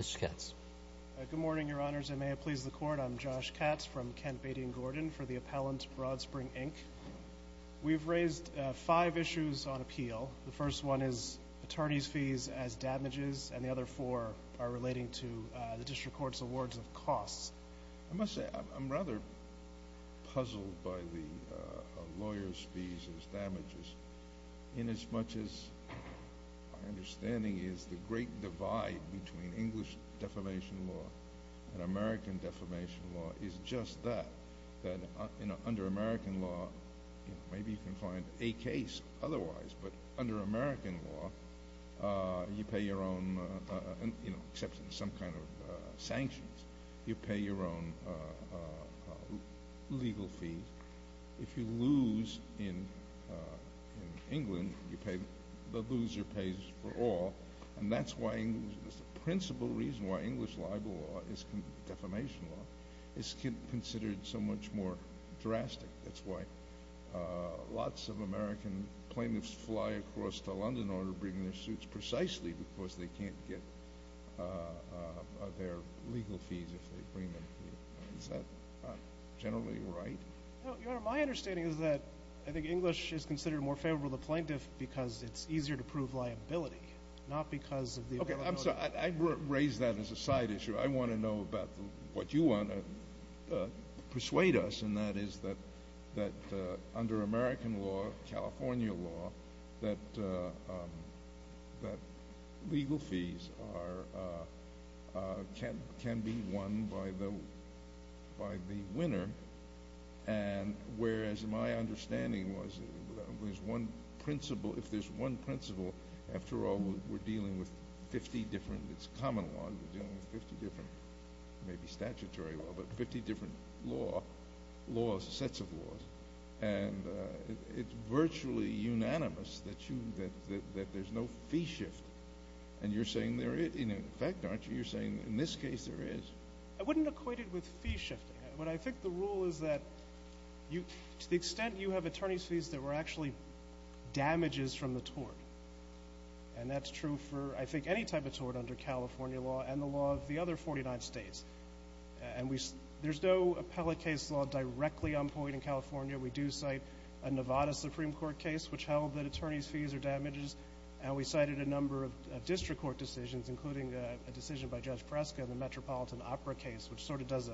Good morning, Your Honors, and may it please the Court, I'm Josh Katz from Kent, Beatty & Gordon for the appellant, Broadspring, Inc. We've raised five issues on appeal. The first one is attorneys' fees as damages, and the other four are relating to the District Court's awards of costs. I must say I'm rather puzzled by the lawyers' fees as damages inasmuch as my understanding is the great divide between English defamation law and American defamation law is just that, that under American law, maybe you can find a case otherwise, but under American law, you pay your own, except in some kind of sanctions, you pay your own legal fees. If you lose in England, the loser pays for all, and that's the principal reason why English defamation law is considered so much more drastic. That's why lots of American plaintiffs fly across to London in order to bring their suits, precisely because they can't get their legal fees if they bring them here. Is that generally right? Your Honor, my understanding is that I think English is considered more favorable to the plaintiff because it's easier to prove liability, not because of the American law. Whereas my understanding was, if there's one principal, after all, we're dealing with 50 different—it's common law—we're dealing with 50 different, maybe statutory law, but 50 different laws, sets of laws, and it's virtually unanimous that there's no fee shift. And you're saying there is, in effect, aren't you? You're saying in this case there is. I wouldn't equate it with fee shifting, but I think the rule is that to the extent you have attorney's fees, there were actually damages from the tort. And that's true for, I think, any type of tort under California law and the law of the other 49 states. There's no appellate case law directly on point in California. We do cite a Nevada Supreme Court case which held that attorney's fees are damages, and we cited a number of district court decisions, including a decision by Judge Fresca in the Metropolitan Opera case, which sort of does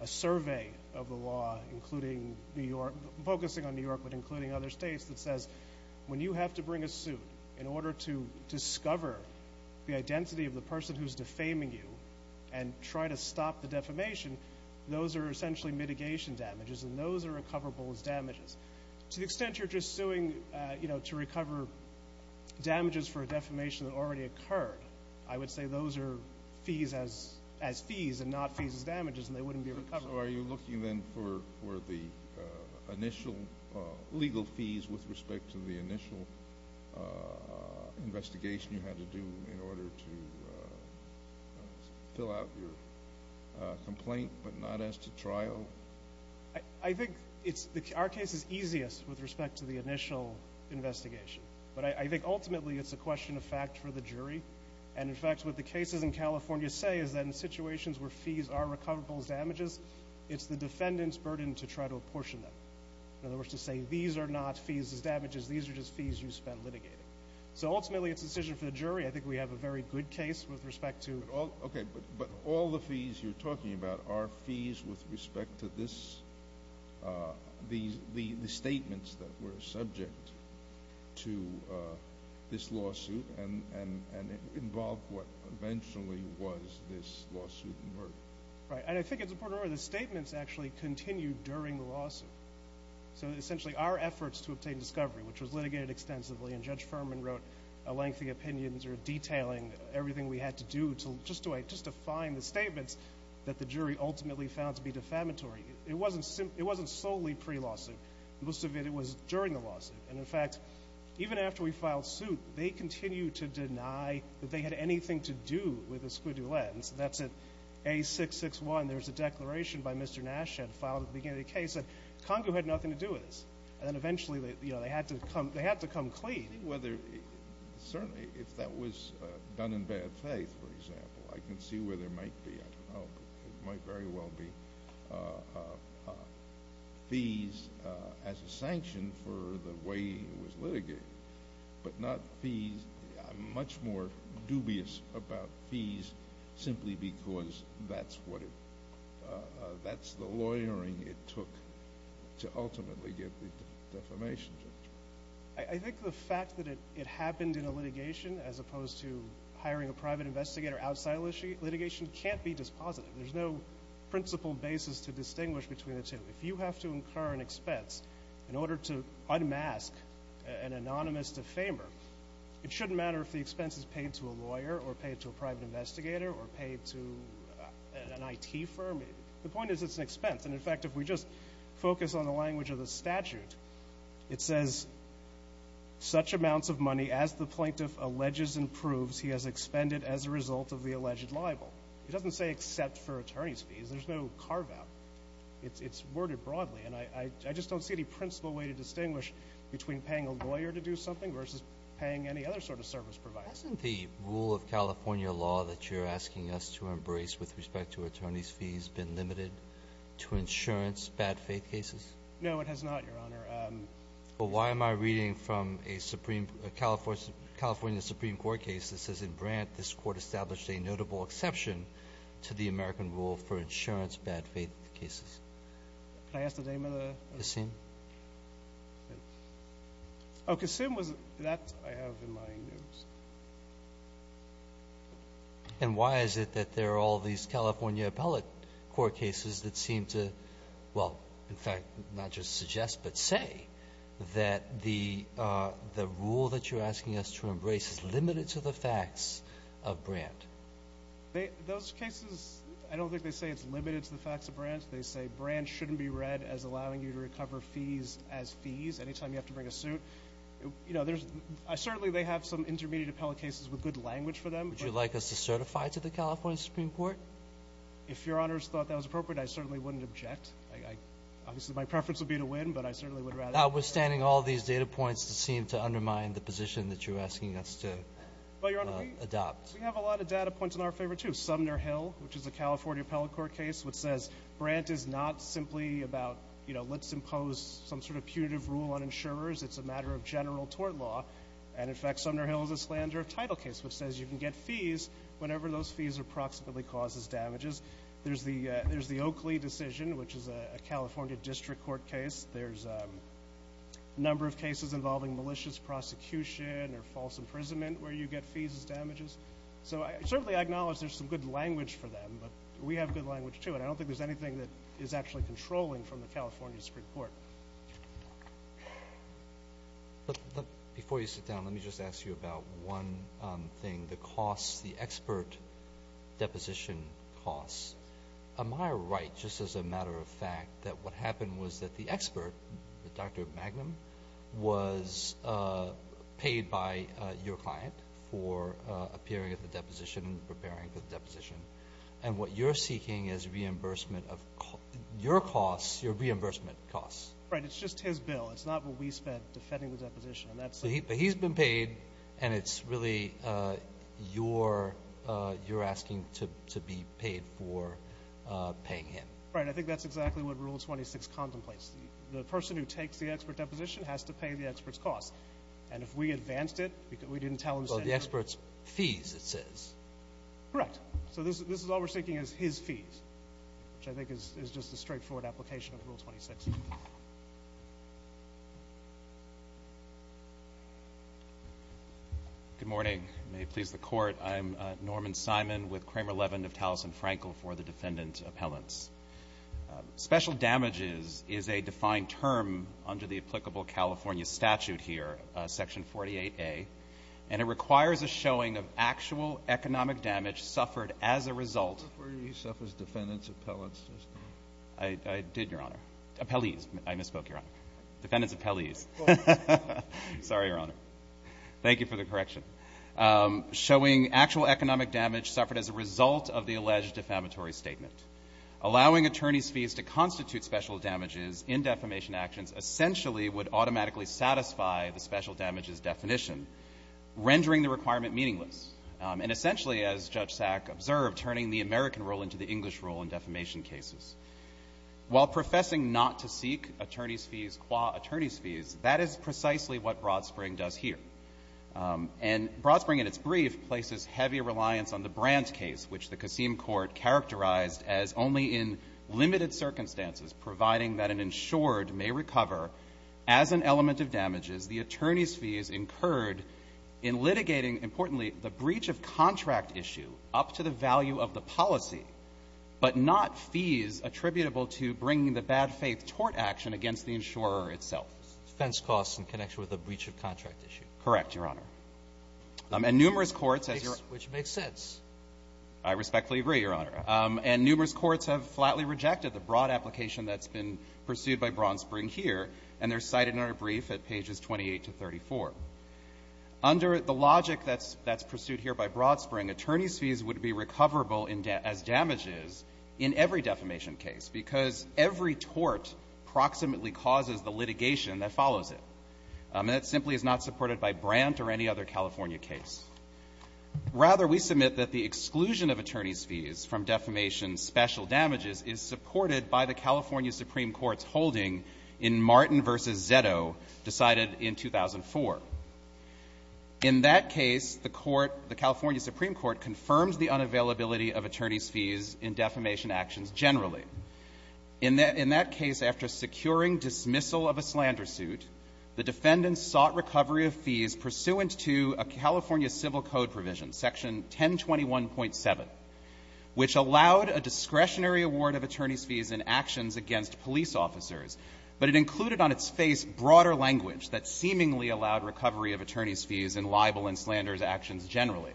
a survey of the law, including New York—focusing on New York, but including other states—that says when you have to bring a suit in order to discover the identity of the person who's defaming you and try to stop the defamation, those are essentially mitigation damages, and those are recoverable as damages. To the extent you're just suing to recover damages for a defamation that already occurred, I would say those are fees as fees and not fees as damages, and they wouldn't be recovered. So are you looking, then, for the initial legal fees with respect to the initial investigation you had to do in order to fill out your complaint but not as to trial? I think our case is easiest with respect to the initial investigation, but I think ultimately it's a question of fact for the jury. And, in fact, what the cases in California say is that in situations where fees are recoverable as damages, it's the defendant's burden to try to apportion them. In other words, to say these are not fees as damages, these are just fees you spend litigating. So ultimately it's a decision for the jury. I think we have a very good case with respect to— Okay, but all the fees you're talking about are fees with respect to the statements that were subject to this lawsuit and involved what eventually was this lawsuit. Right, and I think it's important to remember the statements actually continued during the lawsuit. So essentially our efforts to obtain discovery, which was litigated extensively, and Judge Furman wrote lengthy opinions or detailing everything we had to do just to find the statements that the jury ultimately found to be defamatory. It wasn't solely pre-lawsuit. Most of it was during the lawsuit. And, in fact, even after we filed suit, they continued to deny that they had anything to do with the squidulette. And so that's at A661, there was a declaration by Mr. Nash that filed at the beginning of the case that Congo had nothing to do with this. And then eventually, you know, they had to come clean. I think whether, certainly if that was done in bad faith, for example, I can see where there might be, I don't know, there might very well be fees as a sanction for the way it was litigated, but not fees. I'm much more dubious about fees simply because that's what it, that's the lawyering it took to ultimately get the defamation judgment. I think the fact that it happened in a litigation as opposed to hiring a private investigator outside litigation can't be dispositive. There's no principle basis to distinguish between the two. If you have to incur an expense in order to unmask an anonymous defamer, it shouldn't matter if the expense is paid to a lawyer or paid to a private investigator or paid to an IT firm. The point is it's an expense. And in fact, if we just focus on the language of the statute, it says, such amounts of money as the plaintiff alleges and proves he has expended as a result of the alleged libel. It doesn't say except for attorney's fees. There's no carve-out. It's worded broadly. And I just don't see any principle way to distinguish between paying a lawyer to do something versus paying any other sort of service provider. Hasn't the rule of California law that you're asking us to embrace with respect to attorney's fees been limited to insurance bad faith cases? No, it has not, Your Honor. Well, why am I reading from a Supreme, a California Supreme Court case that says in Brandt, this court established a notable exception to the American rule for insurance bad faith cases? Kasim. Kasim. Kasim. Oh, Kasim, that I have in my news. And why is it that there are all these California appellate court cases that seem to, well, in fact, not just suggest, but say that the rule that you're asking us to embrace is limited to the facts of Brandt? Those cases, I don't think they say it's limited to the facts of Brandt. They say Brandt shouldn't be read as allowing you to recover fees as fees any time you have to bring a suit. You know, there's, I certainly, they have some intermediate appellate cases with good language for them. Would you like us to certify to the California Supreme Court? If Your Honor's thought that was appropriate, I certainly wouldn't object. Obviously, my preference would be to win, but I certainly would rather. Notwithstanding all these data points that seem to undermine the position that you're asking us to adopt. Well, Your Honor, we have a lot of data points in our favor, too. We have Sumner Hill, which is a California appellate court case, which says Brandt is not simply about, you know, let's impose some sort of punitive rule on insurers. It's a matter of general tort law. And, in fact, Sumner Hill is a slander of title case, which says you can get fees whenever those fees are approximately caused as damages. There's the Oakley decision, which is a California district court case. There's a number of cases involving malicious prosecution or false imprisonment where you get fees as damages. So, certainly, I acknowledge there's some good language for them, but we have good language, too. And I don't think there's anything that is actually controlling from the California Supreme Court. But before you sit down, let me just ask you about one thing, the costs, the expert deposition costs. Am I right, just as a matter of fact, that what happened was that the expert, Dr. Magnum, was paid by your client for appearing at the deposition and preparing for the deposition. And what you're seeking is reimbursement of your costs, your reimbursement costs. Right. It's just his bill. It's not what we spent defending the deposition. But he's been paid, and it's really your asking to be paid for paying him. Right. I think that's exactly what Rule 26 contemplates. The person who takes the expert deposition has to pay the expert's costs. And if we advanced it, we didn't tell him to send your— Well, the expert's fees, it says. Correct. So this is all we're seeking is his fees, which I think is just a straightforward application of Rule 26. Good morning. May it please the Court. I'm Norman Simon with Kramer Levin of Taliesin-Frankel for the defendant's appellants. Special damages is a defined term under the applicable California statute here, Section 48A, and it requires a showing of actual economic damage suffered as a result— I thought you said it was defendant's appellants. I did, Your Honor. Appellees. I misspoke, Your Honor. Defendant's appellees. Sorry, Your Honor. Thank you for the correction. Showing actual economic damage suffered as a result of the alleged defamatory statement. Allowing attorneys' fees to constitute special damages in defamation actions essentially would automatically satisfy the special damages definition, rendering the requirement meaningless, and essentially, as Judge Sack observed, turning the American rule into the English rule in defamation cases. While professing not to seek attorneys' fees qua attorneys' fees, that is precisely what Broadspring does here. And Broadspring, in its brief, places heavy reliance on the Brandt case, which the Kassim court characterized as only in limited circumstances, providing that an insured may recover as an element of damages the attorney's fees incurred in litigating, importantly, the breach of contract issue up to the value of the policy, but not fees attributable to bringing the bad faith tort action against the insurer itself. Defense costs in connection with the breach of contract issue. Correct, Your Honor. And numerous courts, as Your Honor— Which makes sense. I respectfully agree, Your Honor. And numerous courts have flatly rejected the broad application that's been pursued by Broadspring here, and they're cited in our brief at pages 28 to 34. Under the logic that's pursued here by Broadspring, attorneys' fees would be recoverable as damages in every defamation case because every tort approximately causes the litigation that follows it. And that simply is not supported by Brandt or any other California case. Rather, we submit that the exclusion of attorneys' fees from defamation special damages is supported by the California Supreme Court's holding in Martin v. Zetto, decided in 2004. In that case, the Court, the California Supreme Court, confirms the unavailability of attorneys' fees in defamation actions generally. In that case, after securing dismissal of a slander suit, the defendants sought recovery of fees pursuant to a California Civil Code provision, Section 1021.7, which allowed a discretionary award of attorneys' fees in actions against police officers, but it included on its face broader language that seemingly allowed recovery of attorneys' fees in libel and slanderous actions generally.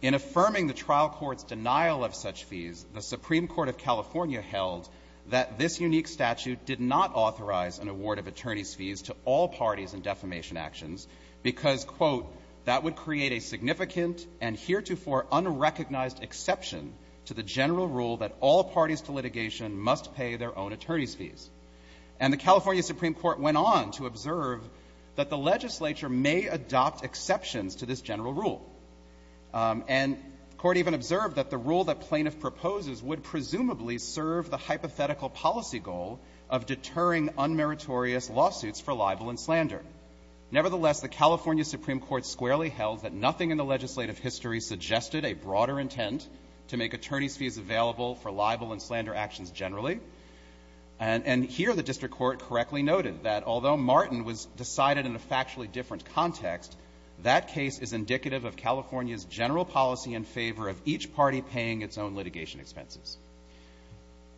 In affirming the trial court's denial of such fees, the Supreme Court of California held that this unique statute did not authorize an award of attorneys' fees to all parties in defamation actions because, quote, that would create a significant and heretofore unrecognized exception to the general rule that all parties to litigation must pay their own attorneys' fees. And the California Supreme Court went on to observe that the legislature may adopt exceptions to this general rule. And the Court even observed that the rule that plaintiff proposes would presumably serve the hypothetical policy goal of deterring unmeritorious lawsuits for libel and slander. Nevertheless, the California Supreme Court squarely held that nothing in the legislative history suggested a broader intent to make attorneys' fees available for libel and slander actions generally. And here the district court correctly noted that although Martin was decided in a factually different context, that case is indicative of California's general policy in favor of each party paying its own litigation expenses.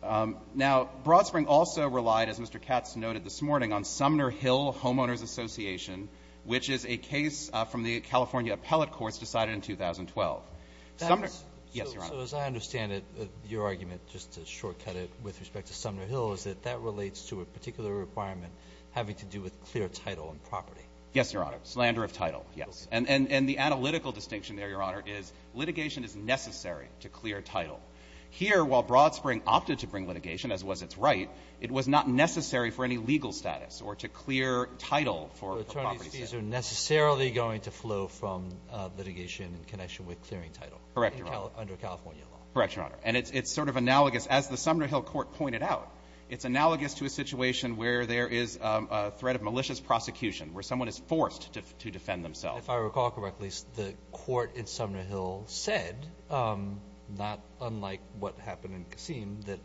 Now, Broadspring also relied, as Mr. Katz noted this morning, on Sumner Hill Homeowners Association, which is a case from the California Appellate Courts decided in 2012. Sumner Hill. Roberts. So as I understand it, your argument, just to shortcut it with respect to Sumner Hill, is that that relates to a particular requirement having to do with clear title and property. Yes, Your Honor. Slander of title, yes. And the analytical distinction there, Your Honor, is litigation is necessary to clear title. Here, while Broadspring opted to bring litigation, as was its right, it was not necessary for any legal status or to clear title for properties. So attorneys' fees are necessarily going to flow from litigation in connection with clearing title. Correct, Your Honor. Under California law. Correct, Your Honor. And it's sort of analogous. As the Sumner Hill court pointed out, it's analogous to a situation where there is a threat of malicious prosecution, where someone is forced to defend themselves. If I recall correctly, the court in Sumner Hill said, not unlike what happened in Kassim, that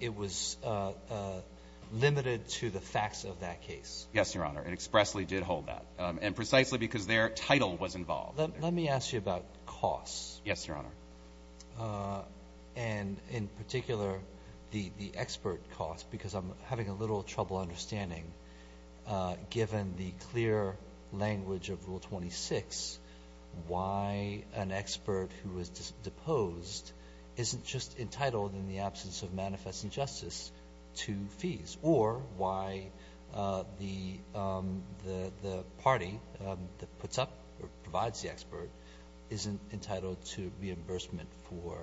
it was limited to the facts of that case. Yes, Your Honor. It expressly did hold that. And precisely because their title was involved. Let me ask you about costs. Yes, Your Honor. And in particular, the expert cost, because I'm having a little trouble understanding, given the clear language of Rule 26, why an expert who is deposed isn't just entitled in the absence of manifest injustice to fees, or why the party that puts up or provides the expert isn't entitled to reimbursement for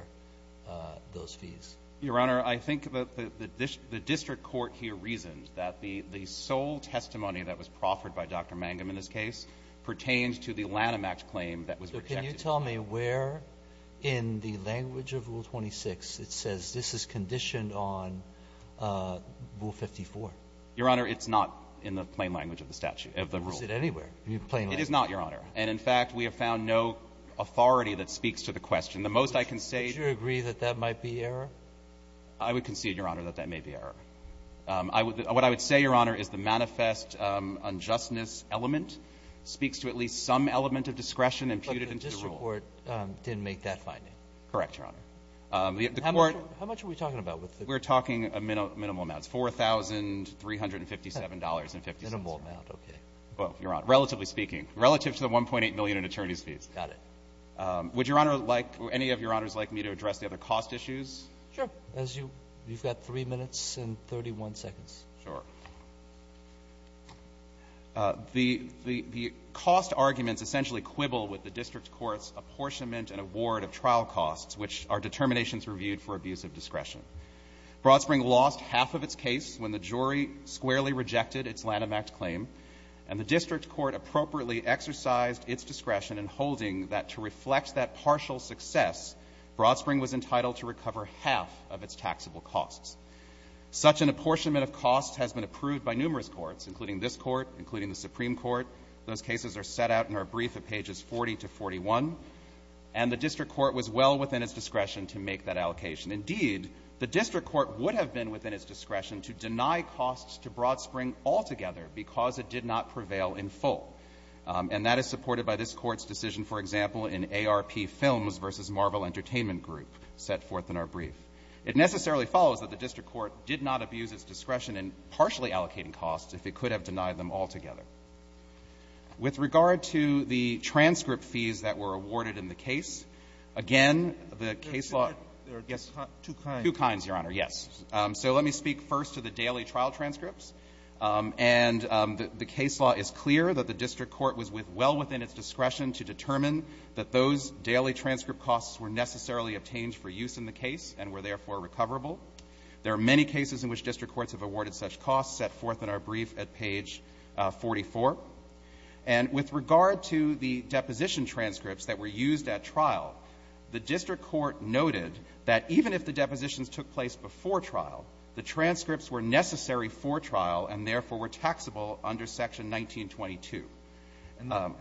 those fees. Your Honor, I think the district court here reasoned that the sole testimony that was proffered by Dr. Mangum in this case pertained to the Lanham Act claim that was rejected. So can you tell me where in the language of Rule 26 it says this is conditioned on Rule 54? Your Honor, it's not in the plain language of the statute, of the rule. Is it anywhere in the plain language? It is not, Your Honor. And in fact, we have found no authority that speaks to the question. And the most I can say to you — Would you agree that that might be error? I would concede, Your Honor, that that may be error. What I would say, Your Honor, is the manifest unjustness element speaks to at least some element of discretion imputed into the rule. But the district court didn't make that finding. Correct, Your Honor. How much are we talking about? We're talking minimal amounts, $4,357.50. Minimal amount, okay. Well, Your Honor, relatively speaking, relative to the $1.8 million in attorneys' fees. Got it. Would Your Honor like — any of Your Honors like me to address the other cost issues? Sure. As you — you've got 3 minutes and 31 seconds. Sure. The — the cost arguments essentially quibble with the district court's apportionment and award of trial costs, which are determinations reviewed for abuse of discretion. Broadspring lost half of its case when the jury squarely rejected its Lanham Act claim, and the district court appropriately exercised its discretion in holding that to reflect that partial success, Broadspring was entitled to recover half of its taxable costs. Such an apportionment of costs has been approved by numerous courts, including this Court, including the Supreme Court. Those cases are set out in our brief at pages 40 to 41, and the district court was well within its discretion to make that allocation. Indeed, the district court would have been within its discretion to deny costs to Broadspring altogether because it did not prevail in full. And that is supported by this Court's decision, for example, in ARP Films v. Marvel Entertainment Group, set forth in our brief. It necessarily follows that the district court did not abuse its discretion in partially allocating costs if it could have denied them altogether. With regard to the transcript fees that were awarded in the case, again, the case law yes, two kinds, Your Honor, yes. So let me speak first to the daily trial transcripts. And the case law is clear that the district court was with well within its discretion to determine that those daily transcript costs were necessarily obtained for use in the case and were, therefore, recoverable. There are many cases in which district courts have awarded such costs, set forth in our brief at page 44. And with regard to the deposition transcripts that were used at trial, the district court noted that even if the depositions took place before trial, the transcripts were necessary for trial and, therefore, were taxable under Section 1922. And not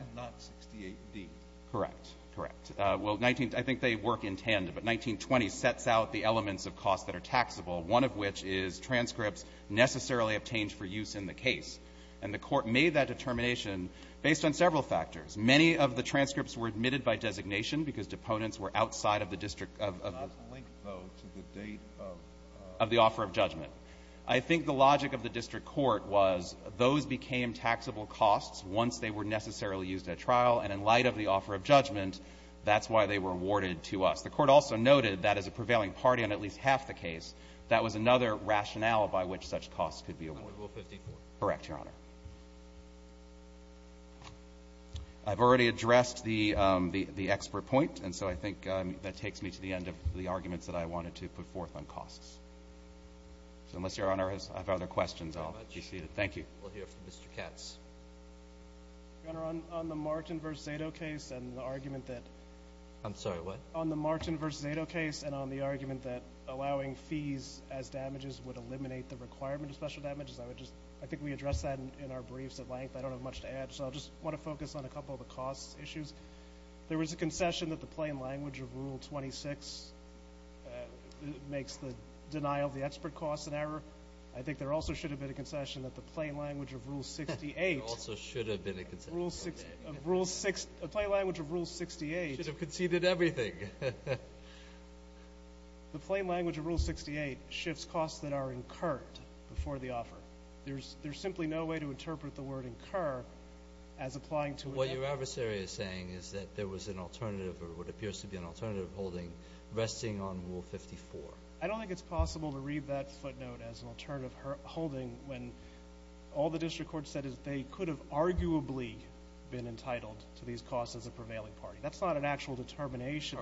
68d. Correct. Correct. Well, 19 — I think they work in tandem, but 1920 sets out the elements of costs that are taxable, one of which is transcripts necessarily obtained for use in the case. And the court made that determination based on several factors. Many of the transcripts were admitted by designation because deponents were outside of the district of — It's not linked, though, to the date of — Of the offer of judgment. I think the logic of the district court was those became taxable costs once they were necessarily used at trial, and in light of the offer of judgment, that's why they were awarded to us. The court also noted that as a prevailing party on at least half the case, that was another rationale by which such costs could be awarded. Rule 54. Correct, Your Honor. I've already addressed the expert point, and so I think that takes me to the end of the arguments that I wanted to put forth on costs. So unless Your Honor has other questions, I'll be seated. Thank you. We'll hear from Mr. Katz. Your Honor, on the Martin v. Zato case and the argument that — I'm sorry. What? On the Martin v. Zato case and on the argument that allowing fees as damages would eliminate the requirement of special damages, I would just — I think we addressed that in our briefs at length. I don't have much to add, so I'll just want to focus on a couple of the costs issues. There was a concession that the plain language of Rule 26 makes the denial of the expert costs an error. I think there also should have been a concession that the plain language of Rule 68 — There also should have been a concession. A plain language of Rule 68 — Should have conceded everything. The plain language of Rule 68 shifts costs that are incurred before the offer. There's simply no way to interpret the word incur as applying to — What your adversary is saying is that there was an alternative or what appears to be an alternative holding resting on Rule 54. I don't think it's possible to read that footnote as an alternative holding when all the district court said is they could have arguably been entitled to these costs as a prevailing party. That's not an actual determination.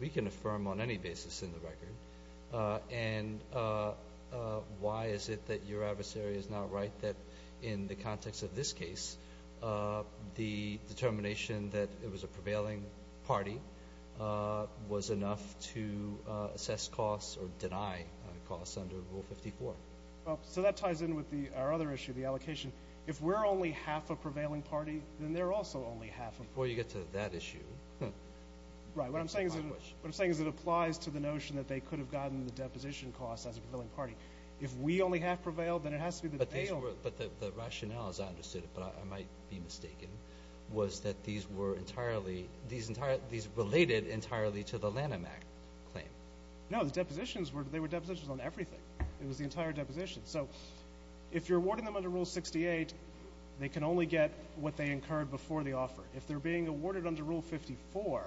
We can affirm on any basis in the record. And why is it that your adversary is not right that in the context of this case, the determination that it was a prevailing party was enough to assess costs or deny costs under Rule 54? So that ties in with our other issue, the allocation. If we're only half a prevailing party, then they're also only half a — Before you get to that issue. Right. What I'm saying is it applies to the notion that they could have gotten the deposition costs as a prevailing party. If we only half prevailed, then it has to be that they only — But the rationale, as I understood it, but I might be mistaken, was that these were entirely — these related entirely to the Lanham Act claim. No. The depositions were — they were depositions on everything. It was the entire deposition. So if you're awarding them under Rule 68, they can only get what they incurred before the offer. If they're being awarded under Rule 54,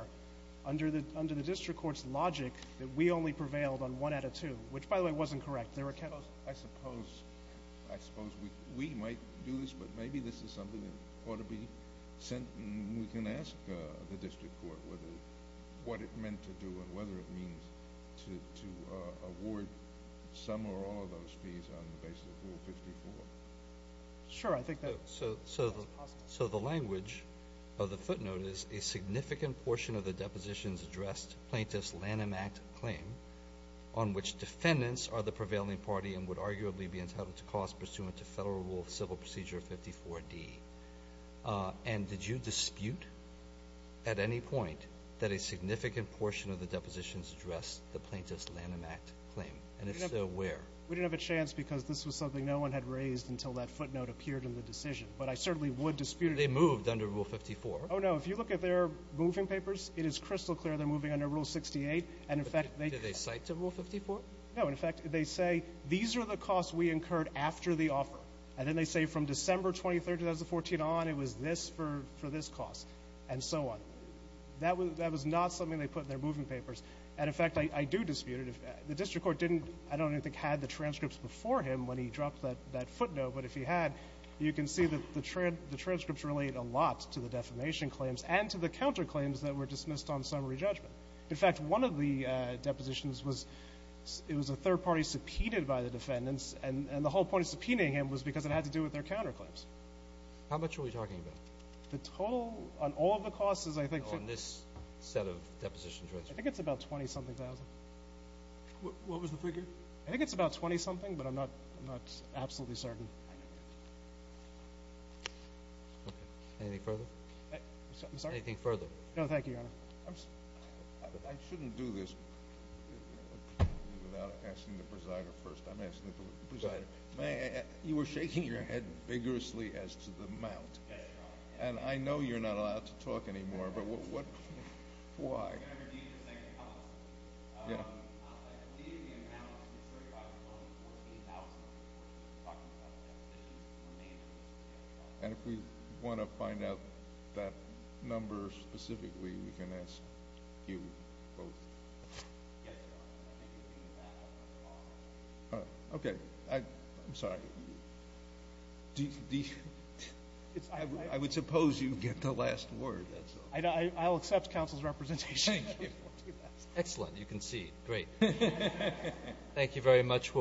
under the district court's logic, that we only prevailed on one out of two, which, by the way, wasn't correct. I suppose we might do this, but maybe this is something that ought to be sent and we can ask the district court what it meant to do and whether it means to award some or all of those fees on the basis of Rule 54. Sure. I think that's possible. So the language of the footnote is, a significant portion of the depositions addressed plaintiff's Lanham Act claim on which defendants are the prevailing party and would arguably be entitled to cost pursuant to Federal Rule of Civil Procedure 54D. And did you dispute at any point that a significant portion of the depositions addressed the plaintiff's Lanham Act claim? And if so, where? We didn't have a chance because this was something no one had raised until that footnote appeared in the decision. But I certainly would dispute it. They moved under Rule 54. Oh, no. If you look at their moving papers, it is crystal clear they're moving under Rule 68. And, in fact, they — Did they cite to Rule 54? No. In fact, they say, these are the costs we incurred after the offer. And then they say, from December 23, 2014 on, it was this for this cost, and so on. That was not something they put in their moving papers. And, in fact, I do dispute it. The district court didn't, I don't even think, had the transcripts before him when he dropped that footnote. But if he had, you can see that the transcripts relate a lot to the defamation claims and to the counterclaims that were dismissed on summary judgment. In fact, one of the depositions was — it was a third party subpoenaed by the defendants. And the whole point of subpoenaing him was because it had to do with their counterclaims. How much are we talking about? The toll on all of the costs is, I think — On this set of depositions, right? I think it's about $20-something thousand. What was the figure? I think it's about $20-something, but I'm not absolutely certain. Okay. Anything further? I'm sorry? Anything further? No. Thank you, Your Honor. I shouldn't do this without asking the presider first. I'm asking the presider. You were shaking your head vigorously as to the amount. Yes, Your Honor. And I know you're not allowed to talk anymore, but what — why? I'm going to repeat the second comment. Yeah. The amount is $35,014,000. We're talking about depositions and remainders. And if we want to find out that number specifically, we can ask you both. Okay. I'm sorry. I would suppose you get the last word. I'll accept counsel's representation. Thank you. Excellent. You concede. Great. Thank you very much.